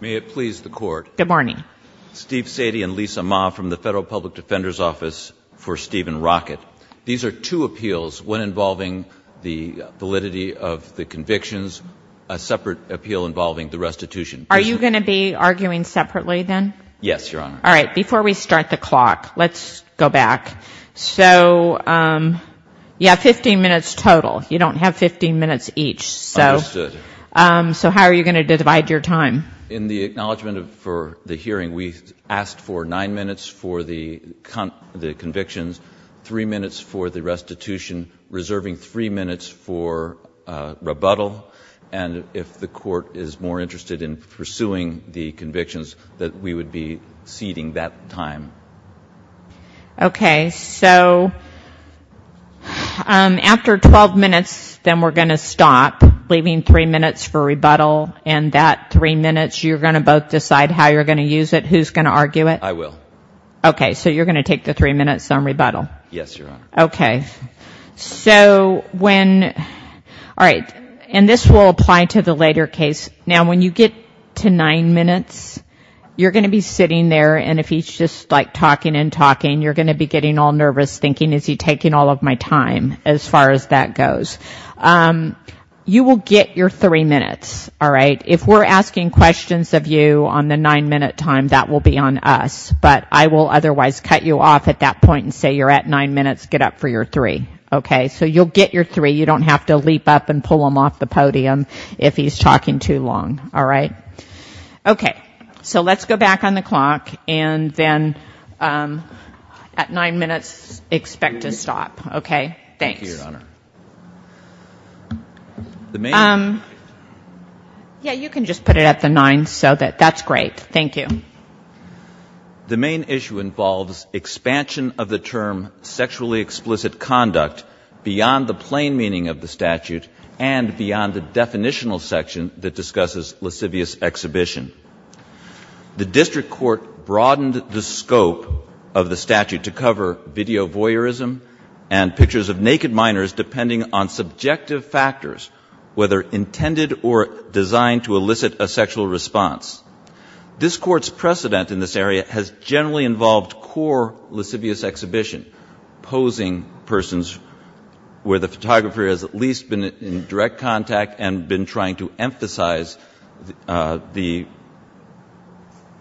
May it please the Court. Good morning. Steve Sadie and Lisa Ma from the Federal Public Defender's Office for Steven Rockett. These are two appeals, one involving the validity of the convictions, a separate appeal involving the restitution. Are you going to be arguing separately then? Yes, Your Honor. All right, before we start the clock, let's go back. So you have 15 minutes total. You don't have 15 minutes each. Understood. So how are you going to divide your time? In the acknowledgment for the hearing, we asked for nine minutes for the convictions, three minutes for the restitution, reserving three minutes for rebuttal. And if the court is more interested in pursuing the convictions, that we would be ceding that time. Okay. So after 12 minutes, then we're going to stop, leaving three minutes for rebuttal. And that three minutes, you're going to both decide how you're going to use it, who's going to argue it? I will. Okay. So you're going to take the three minutes on rebuttal. Yes, Your Honor. Okay. So when all right, and this will apply to the later case. Now, when you get to nine minutes, you're going to be sitting there and if he's just like talking and talking, you're going to be getting all nervous thinking, is he taking all of my time as far as that goes? You will get your three minutes. All right. If we're asking questions of you on the nine minute time, that will be on us. But I will otherwise cut you off at that point and say you're at nine minutes, get up for your three. Okay. So you'll get your three. You don't have to leap up and pull him off the podium if he's talking too long. All right. Okay. So let's go back on the clock. And then at nine minutes, expect to stop. Okay. Thanks. Thank you, Your Honor. Yeah, you can just put it at the nine, so that's great. Thank you. The main issue involves expansion of the term sexually explicit conduct beyond the plain meaning of the statute and beyond the definitional section that discusses lascivious exhibition. The district court broadened the scope of the statute to cover video voyeurism and pictures of naked minors, depending on subjective factors, whether intended or designed to elicit a sexual response. This court's precedent in this area has generally involved core lascivious exhibition, posing persons where the photographer has at least been in direct contact and been trying to emphasize the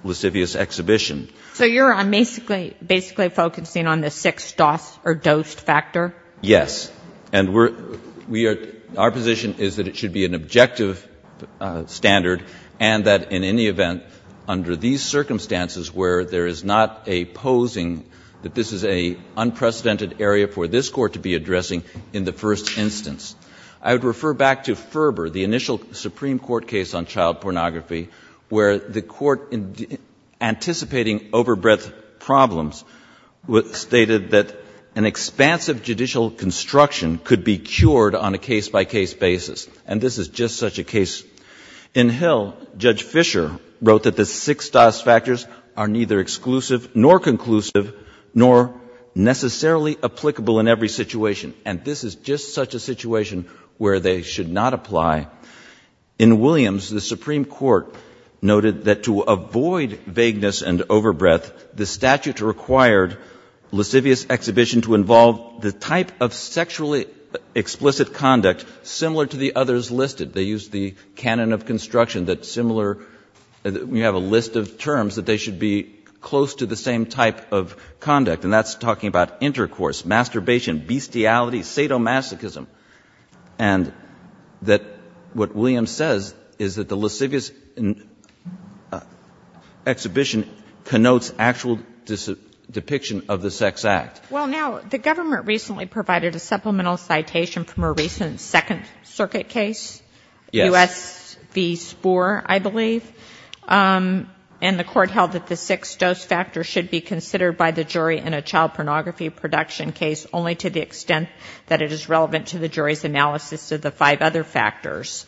lascivious exhibition. So you're basically focusing on the six DOS or dosed factor? Yes. And our position is that it should be an objective standard, and that in any event, under these circumstances where there is not a posing, that this is an unprecedented area for this Court to be addressing in the first instance. I would refer back to Ferber, the initial Supreme Court case on child pornography, where the Court, anticipating overbreadth problems, stated that an expansive judicial construction could be cured on a case-by-case basis. And this is just such a case. In Hill, Judge Fisher wrote that the six DOS factors are neither exclusive nor conclusive nor necessarily applicable in every situation. And this is just such a situation where they should not apply. In Williams, the Supreme Court noted that to avoid vagueness and overbreadth, the statute required lascivious exhibition to involve the type of sexually explicit conduct similar to the others listed. They used the canon of construction that similar we have a list of terms that they should be close to the same type of conduct, and that's talking about intercourse, masturbation, bestiality, sadomasochism. And that what Williams says is that the lascivious exhibition connotes actual gender, and that's a different depiction of the sex act. Well, now, the government recently provided a supplemental citation from a recent Second Circuit case, U.S. v. Spoor, I believe. And the Court held that the six DOS factors should be considered by the jury in a child pornography production case only to the extent that it is relevant to the jury's analysis of the five other factors.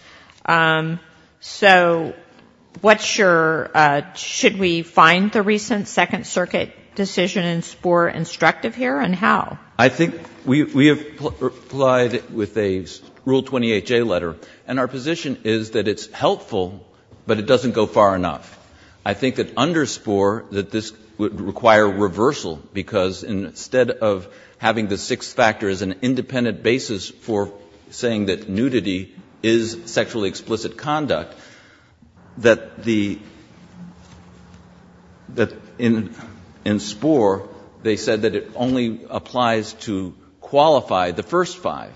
So what's your — should we find the recent Second Circuit decision in Spoor instructive here, and how? I think we have applied it with a Rule 28J letter, and our position is that it's helpful, but it doesn't go far enough. I think that under Spoor, that this would require reversal, because instead of having the six factors as an independent basis for saying that nudity is sexually explicit conduct, that the — that in Spoor, they said that it only applies to qualify the first five.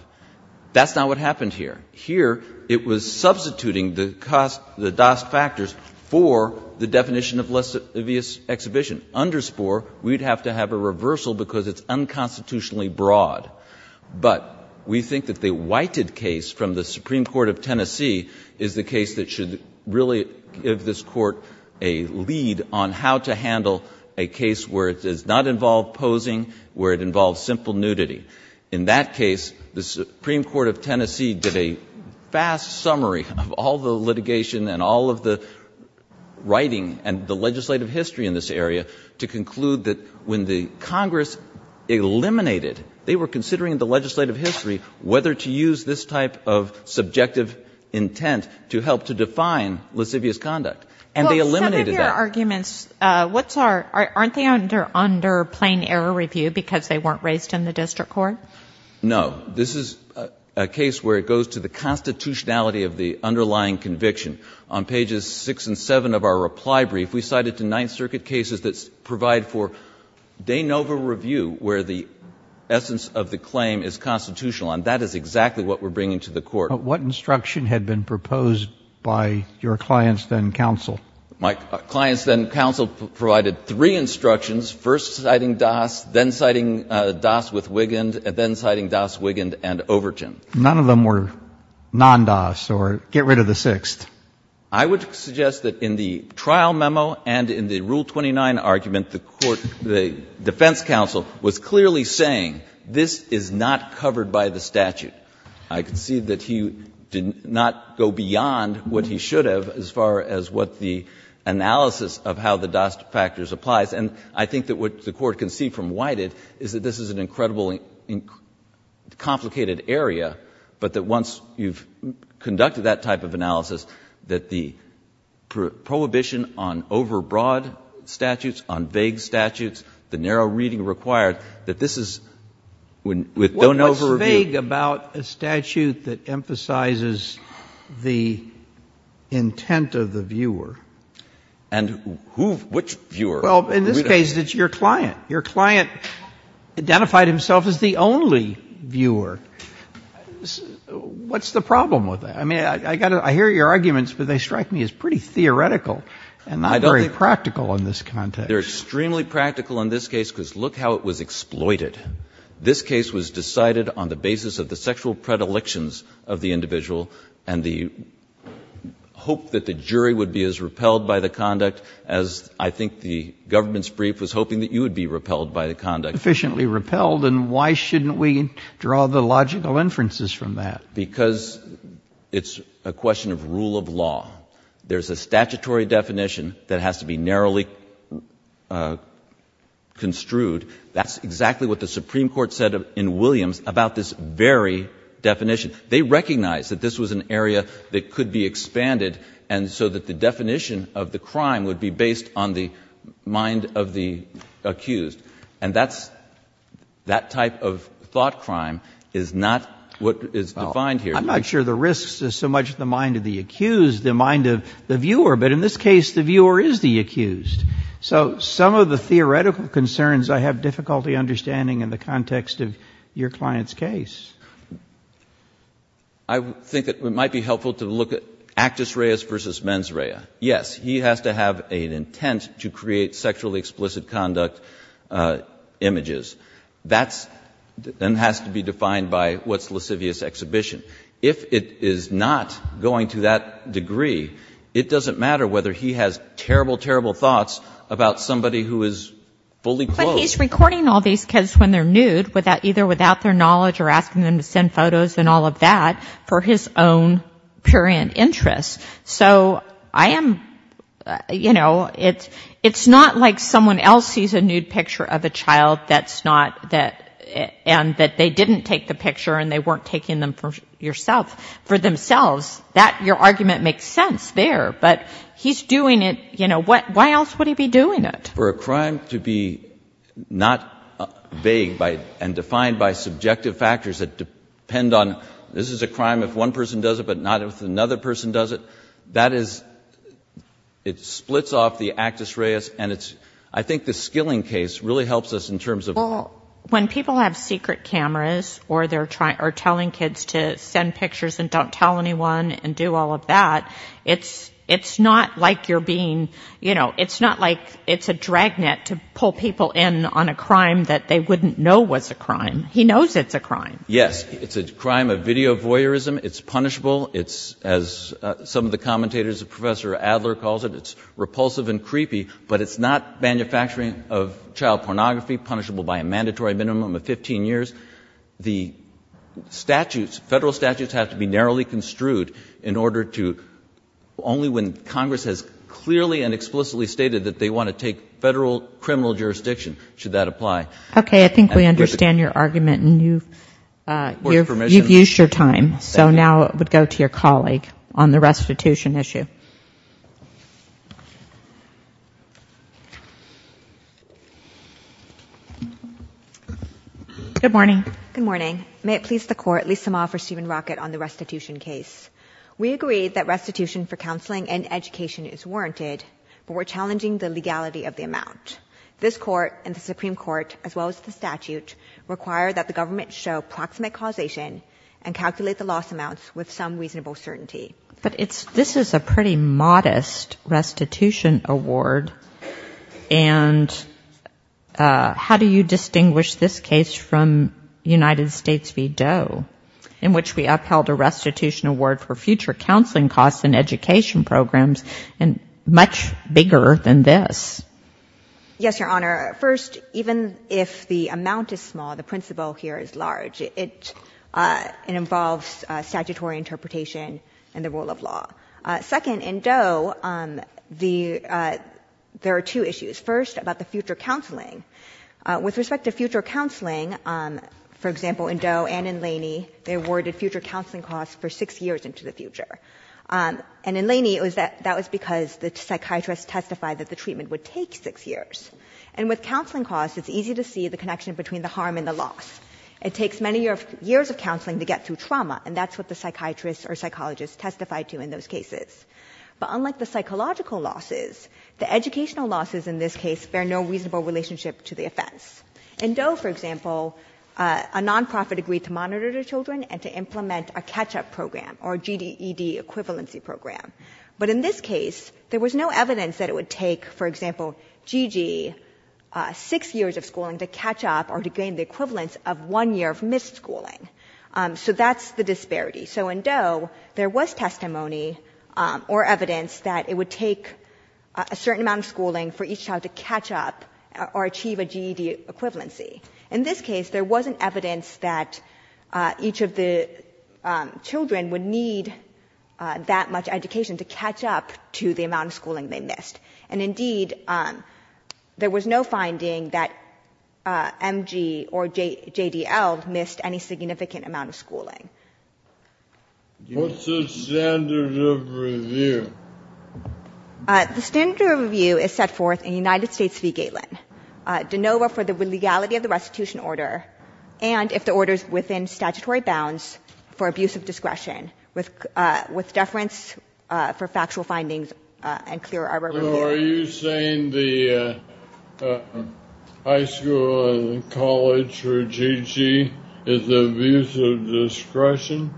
That's not what happened here. Here, it was substituting the DOS factors for the definition of lascivious exhibition. Under Spoor, we'd have to have a reversal, because it's unconstitutionally broad. But we think that the Whited case from the Supreme Court of Tennessee is the case that should really give this Court a lead on how to handle a case where it does not involve posing, where it involves simple nudity. In that case, the Supreme Court of Tennessee did a fast summary of all the litigation and all of the writing and the legislative history in this area, to conclude that when the Congress eliminated — they were considering the legislative history, whether to use this type of subjective intent to help to define lascivious conduct. And they eliminated that. No. This is a case where it goes to the constitutionality of the underlying conviction. On pages 6 and 7 of our reply brief, we cited to Ninth Circuit cases that provide for de novo review, where the essence of the claim is constitutional. And that is exactly what we're bringing to the Court. But what instruction had been proposed by your clients, then counsel? My clients, then counsel, provided three instructions, first citing DOS, then citing DOS with Wigand, and then citing DOS, Wigand, and Overton. None of them were non-DOS or get rid of the sixth. I would suggest that in the trial memo and in the Rule 29 argument, the defense counsel was clearly saying this is not covered by the statute. I concede that he did not go beyond what he should have as far as what the analysis of how the DOS factors applies. And I think that what the Court can see from Wigand is that this is an incredibly complicated area, but that once you've conducted that type of analysis, that the prohibition on overbroad statutes, on vague statutes, the narrow reading required, that this is, with de novo review. What's vague about a statute that emphasizes the intent of the viewer? And who, which viewer? Well, in this case, it's your client. Your client identified himself as the only viewer. What's the problem with that? I mean, I hear your arguments, but they strike me as pretty theoretical and not very practical in this context. They're extremely practical in this case because look how it was exploited. This case was decided on the basis of the sexual predilections of the individual and the hope that the jury would be as repelled by the conduct as I think the government's brief was hoping that you would be repelled by the conduct. Efficiently repelled, and why shouldn't we draw the logical inferences from that? Because it's a question of rule of law. There's a statutory definition that has to be narrowly construed. That's exactly what the Supreme Court said in Williams about this very definition. They recognized that this was an area that could be expanded so that the definition of the crime would be based on the mind of the accused. And that type of thought crime is not what is defined here. I'm not sure the risks are so much the mind of the accused, the mind of the viewer, but in this case the viewer is the accused. So some of the theoretical concerns I have difficulty understanding in the context of your client's case. I think it might be helpful to look at actus reus versus mens rea. Yes, he has to have an intent to create sexually explicit conduct images. That has to be defined by what's lascivious exhibition. If it is not going to that degree, it doesn't matter whether he has terrible, terrible thoughts about somebody who is fully clothed. But he's recording all these because when they're nude, either without their knowledge or asking them to send photos and all of that, for his own purient interest. So I am, you know, it's not like someone else sees a nude picture of a child that's not, and that they didn't take the picture and they weren't taking them for yourself, for themselves. That, your argument makes sense there. But he's doing it, you know, why else would he be doing it? For a crime to be not vague and defined by subjective factors that depend on, this is a crime if one person does it, but not if another person does it, that is, it splits off the actus reus. And I think the skilling case really helps us in terms of Well, when people have secret cameras or they're telling kids to send pictures and don't tell anyone and do all of that, it's not like you're being, you know, it's not like it's a dragnet to pull people in on a crime that they wouldn't know was a crime. He knows it's a crime. Yes, it's a crime of video voyeurism. It's punishable. It's, as some of the commentators, Professor Adler calls it, it's repulsive and creepy, but it's not manufacturing of child pornography, punishable by a mandatory minimum of 15 years. The statutes, federal statutes, have to be narrowly construed in order to, only when Congress has clearly and explicitly stated that they want to take federal criminal jurisdiction should that apply. Okay. I think we understand your argument and you've used your time. So now it would go to your colleague on the restitution issue. Good morning. Good morning. May it please the Court, Lisa Ma for Stephen Rockett on the restitution case. We agree that restitution for counseling and education is warranted, but we're challenging the legality of the amount. This Court and the Supreme Court, as well as the statute, require that the government show proximate causation and calculate the loss amounts with some reasonable certainty. But this is a pretty modest restitution award, and how do you distinguish this case from United States v. Doe, in which we upheld a restitution award for future counseling costs and education programs much bigger than this? Yes, Your Honor. First, even if the amount is small, the principle here is large. It involves statutory interpretation and the rule of law. Second, in Doe, there are two issues. First, about the future counseling. With respect to future counseling, for example, in Doe and in Laney, they awarded future counseling costs for six years into the future. And in Laney, that was because the psychiatrist testified that the treatment would take six years. And with counseling costs, it's easy to see the connection between the harm and the loss. It takes many years of counseling to get through trauma, and that's what the psychiatrist or psychologist testified to in those cases. But unlike the psychological losses, the educational losses in this case bear no reasonable relationship to the offense. In Doe, for example, a nonprofit agreed to monitor the children and to implement a catch-up program or GDED equivalency program. But in this case, there was no evidence that it would take, for example, GG, six years of schooling to catch up or to gain the equivalence of one year of missed schooling. So that's the disparity. So in Doe, there was testimony or evidence that it would take a certain amount of schooling for each child to catch up or achieve a GED equivalency. In this case, there wasn't evidence that each of the children would need that much education to catch up to the amount of schooling they missed. And indeed, there was no finding that MG or JDL missed any significant amount of schooling. What's the standard of review? The standard of review is set forth in United States v. Gateland, de novo for the legality of the restitution order and if the order is within statutory bounds for abuse of discretion with deference for factual findings and clear arbor review. So are you saying the high school and college for GG is abuse of discretion?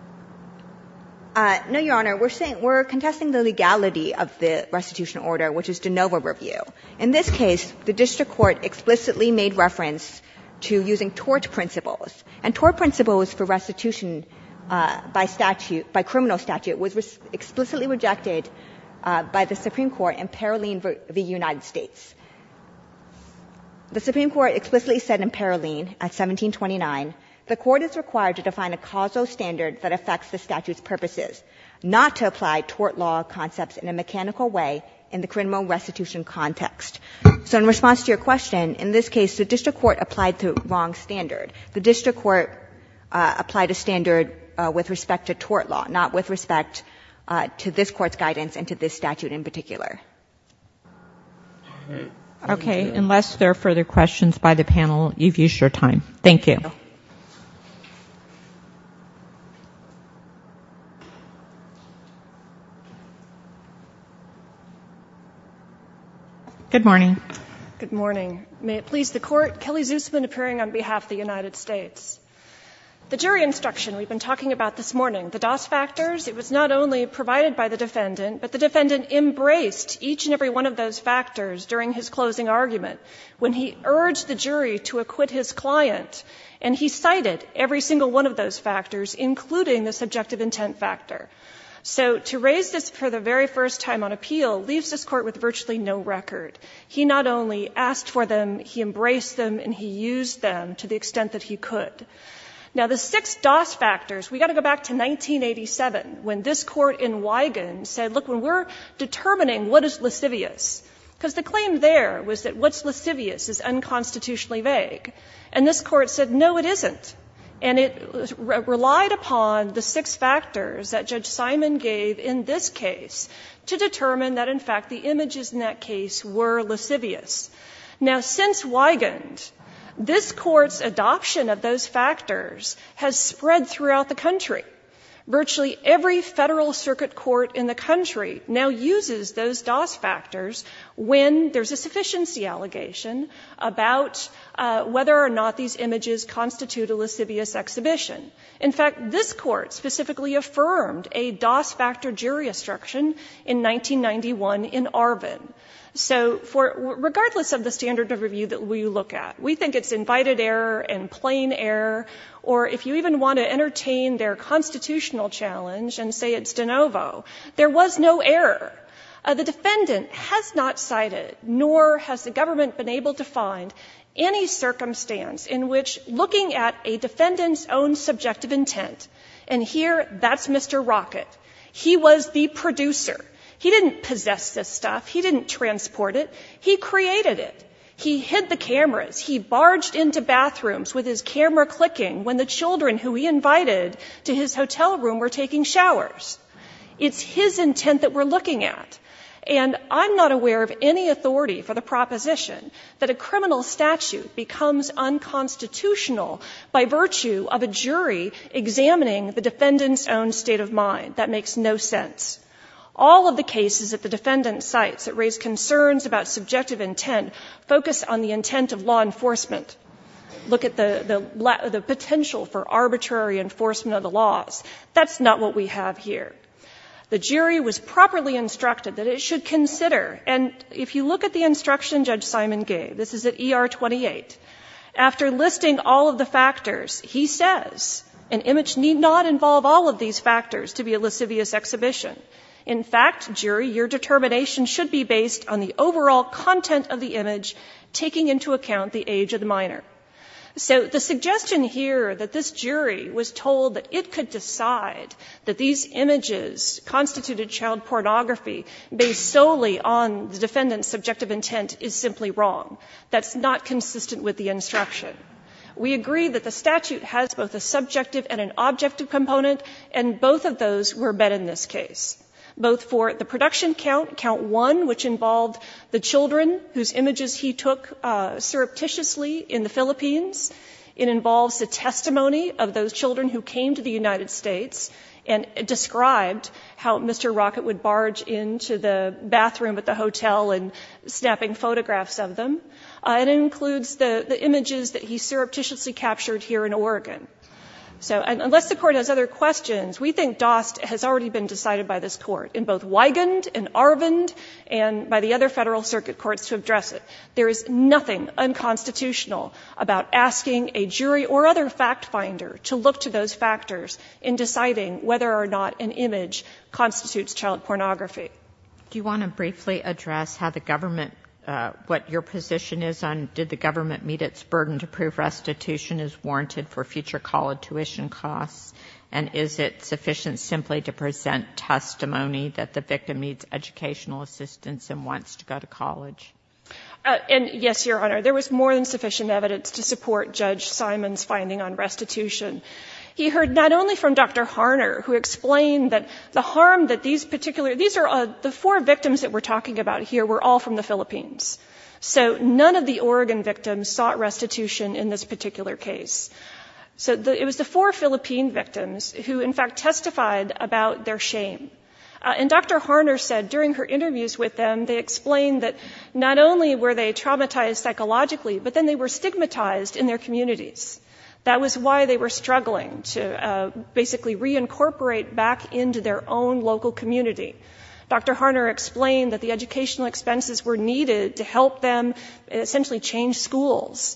No, Your Honor. We're contesting the legality of the restitution order, which is de novo review. In this case, the district court explicitly made reference to using tort principles. And tort principles for restitution by statute, by criminal statute, was explicitly rejected by the Supreme Court in Paroline v. United States. The Supreme Court explicitly said in Paroline at 1729, the Court is required to define a causal standard that affects the statute's purposes, not to apply tort law concepts in a mechanical way in the criminal restitution context. So in response to your question, in this case, the district court applied the wrong standard. The district court applied a standard with respect to tort law, not with respect to this Court's guidance and to this statute in particular. Okay. Unless there are further questions by the panel, you've used your time. Thank you. Good morning. Good morning. May it please the Court. Kelly Zusman appearing on behalf of the United States. The jury instruction we've been talking about this morning, the DOS factors, it was not only provided by the defendant, but the defendant embraced each and every one of those factors during his closing argument. but the defendant embraced each and every one of those factors during his closing And he cited every single one of those factors, including the subjective intent factor. So to raise this for the very first time on appeal leaves this Court with virtually no record. He not only asked for them, he embraced them and he used them to the extent that he could. Now, the six DOS factors, we've got to go back to 1987 when this Court in Wigan said, look, we're determining what is lascivious. Because the claim there was that what's lascivious is unconstitutionally vague. And this Court said, no, it isn't. And it relied upon the six factors that Judge Simon gave in this case to determine that, in fact, the images in that case were lascivious. Now, since Wigan, this Court's adoption of those factors has spread throughout the country. Virtually every federal circuit court in the country now uses those DOS factors when there's a sufficiency allegation about whether or not these images constitute a lascivious exhibition. In fact, this Court specifically affirmed a DOS factor jury instruction in 1991 in Arvin. So regardless of the standard of review that we look at, we think it's invited error and plain error. Or if you even want to entertain their constitutional challenge and say it's de novo, there was no error. The defendant has not cited, nor has the government been able to find, any circumstance in which looking at a defendant's own subjective intent. And here, that's Mr. Rocket. He was the producer. He didn't possess this stuff. He didn't transport it. He created it. He hid the cameras. He barged into bathrooms with his camera clicking when the children who he invited to his hotel room were taking showers. It's his intent that we're looking at. And I'm not aware of any authority for the proposition that a criminal statute becomes unconstitutional by virtue of a jury examining the defendant's own state of mind. That makes no sense. All of the cases that the defendant cites that raise concerns about subjective intent focus on the intent of law enforcement. Look at the potential for arbitrary enforcement of the laws. That's not what we have here. The jury was properly instructed that it should consider, and if you look at the instruction Judge Simon gave, this is at ER 28, after listing all of the factors, he says, an image need not involve all of these factors to be a lascivious exhibition. In fact, jury, your determination should be based on the overall content of the image, taking into account the age of the minor. So the suggestion here that this jury was told that it could decide that these images constituted child pornography based solely on the defendant's subjective intent is simply wrong. That's not consistent with the instruction. We agree that the statute has both a subjective and an objective component, and both of those were met in this case, both for the production count, count one, which involved the children whose images he took surreptitiously in the Philippines. It involves the testimony of those children who came to the United States and described how Mr. Rocket would barge into the bathroom at the hotel and snapping photographs of them. It includes the images that he surreptitiously captured here in Oregon. So unless the Court has other questions, we think DOST has already been decided by this Court in both Wigand and Arvind and by the other Federal Circuit Courts to address it. There is nothing unconstitutional about asking a jury or other fact finder to look to those factors in deciding whether or not an image constitutes child pornography. Do you want to briefly address what your position is on did the government meet its burden to prove restitution is warranted for future college tuition costs, and is it sufficient simply to present testimony that the victim needs educational assistance and wants to go to college? And yes, Your Honor. There was more than sufficient evidence to support Judge Simon's finding on restitution. He heard not only from Dr. Harner, who explained that the harm that these particular—these are the four victims that we're talking about here were all from the Philippines. So none of the Oregon victims sought restitution in this particular case. So it was the four Philippine victims who, in fact, testified about their shame. And Dr. Harner said during her interviews with them, they explained that not only were they traumatized psychologically, but then they were stigmatized in their communities. That was why they were struggling to basically reincorporate back into their own local community. Dr. Harner explained that the educational expenses were needed to help them essentially change schools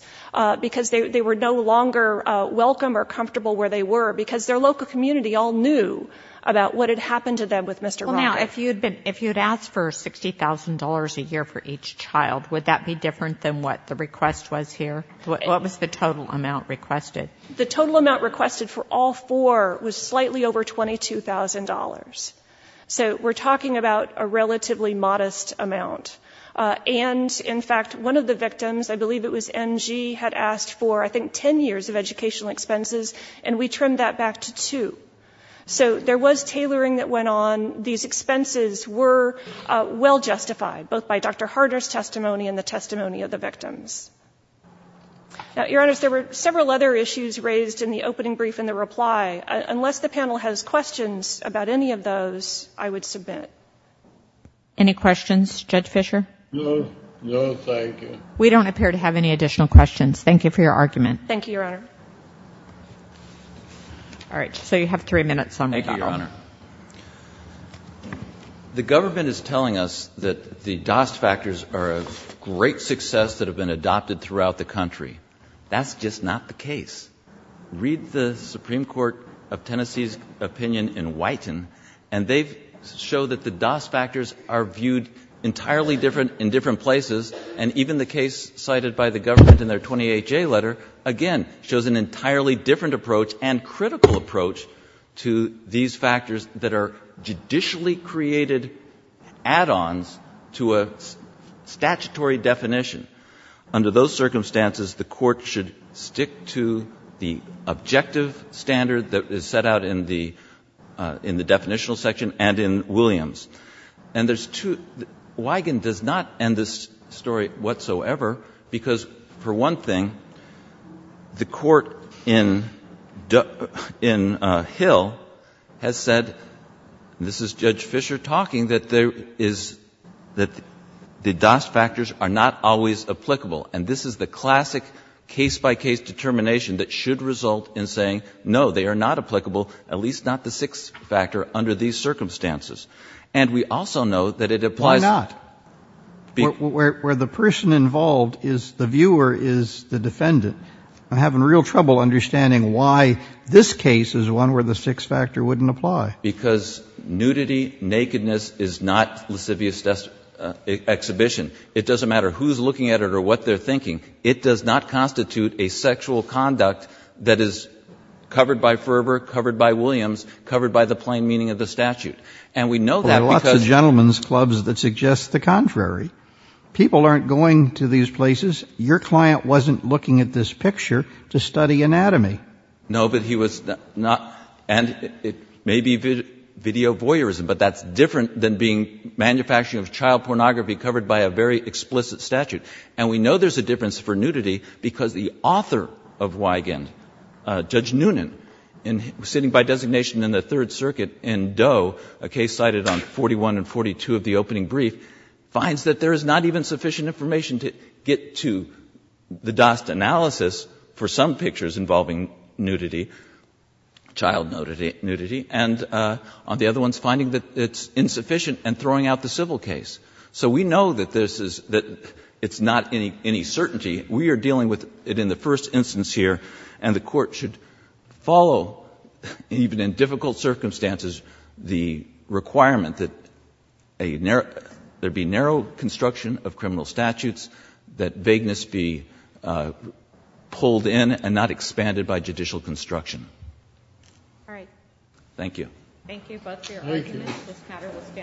because they were no longer welcome or comfortable where they were because their local community all knew about what had happened to them with Mr. Rogers. Well, now, if you'd been—if you'd asked for $60,000 a year for each child, would that be different than what the request was here? What was the total amount requested? The total amount requested for all four was slightly over $22,000. So we're talking about a relatively modest amount. And, in fact, one of the victims, I believe it was NG, had asked for, I think, 10 years of educational expenses, and we trimmed that back to two. So there was tailoring that went on. These expenses were well justified, both by Dr. Harner's testimony and the testimony of the victims. Now, Your Honors, there were several other issues raised in the opening brief and the reply. Unless the panel has questions about any of those, I would submit. Any questions? Judge Fischer? No. No, thank you. We don't appear to have any additional questions. Thank you for your argument. Thank you, Your Honor. All right. So you have three minutes on rebuttal. Thank you, Your Honor. The government is telling us that the DAS factors are a great success that have been adopted throughout the country. That's just not the case. Read the Supreme Court of Tennessee's opinion in Whiten, and they show that the government in their 28-J letter, again, shows an entirely different approach and critical approach to these factors that are judicially created add-ons to a statutory definition. Under those circumstances, the Court should stick to the objective standard that is set out in the definitional section and in Williams. And there's two — Wigan does not end this story whatsoever because, for one thing, the court in Hill has said — and this is Judge Fischer talking — that the DAS factors are not always applicable. And this is the classic case-by-case determination that should result in saying, no, they are not applicable, at least not the sixth factor under these circumstances. And we also know that it applies — Why not? Where the person involved is the viewer is the defendant. I'm having real trouble understanding why this case is one where the sixth factor wouldn't apply. Because nudity, nakedness is not lascivious exhibition. It doesn't matter who's looking at it or what they're thinking. It does not constitute a sexual conduct that is covered by Ferber, covered by Williams, covered by the plain meaning of the statute. And we know that because — Well, there are lots of gentlemen's clubs that suggest the contrary. People aren't going to these places. Your client wasn't looking at this picture to study anatomy. No, but he was not — and it may be video voyeurism, but that's different than being manufacturing of child pornography covered by a very explicit statute. And we know there's a difference for nudity because the author of Wigan, Judge Wigan Doe, a case cited on 41 and 42 of the opening brief, finds that there is not even sufficient information to get to the Dost analysis for some pictures involving nudity, child nudity, and on the other ones, finding that it's insufficient and throwing out the civil case. So we know that this is — that it's not any certainty. We are dealing with it in the first instance here, and the Court should follow, even in difficult circumstances, the requirement that there be narrow construction of criminal statutes, that vagueness be pulled in and not expanded by judicial construction. All right. Thank you. Thank you both for your arguments.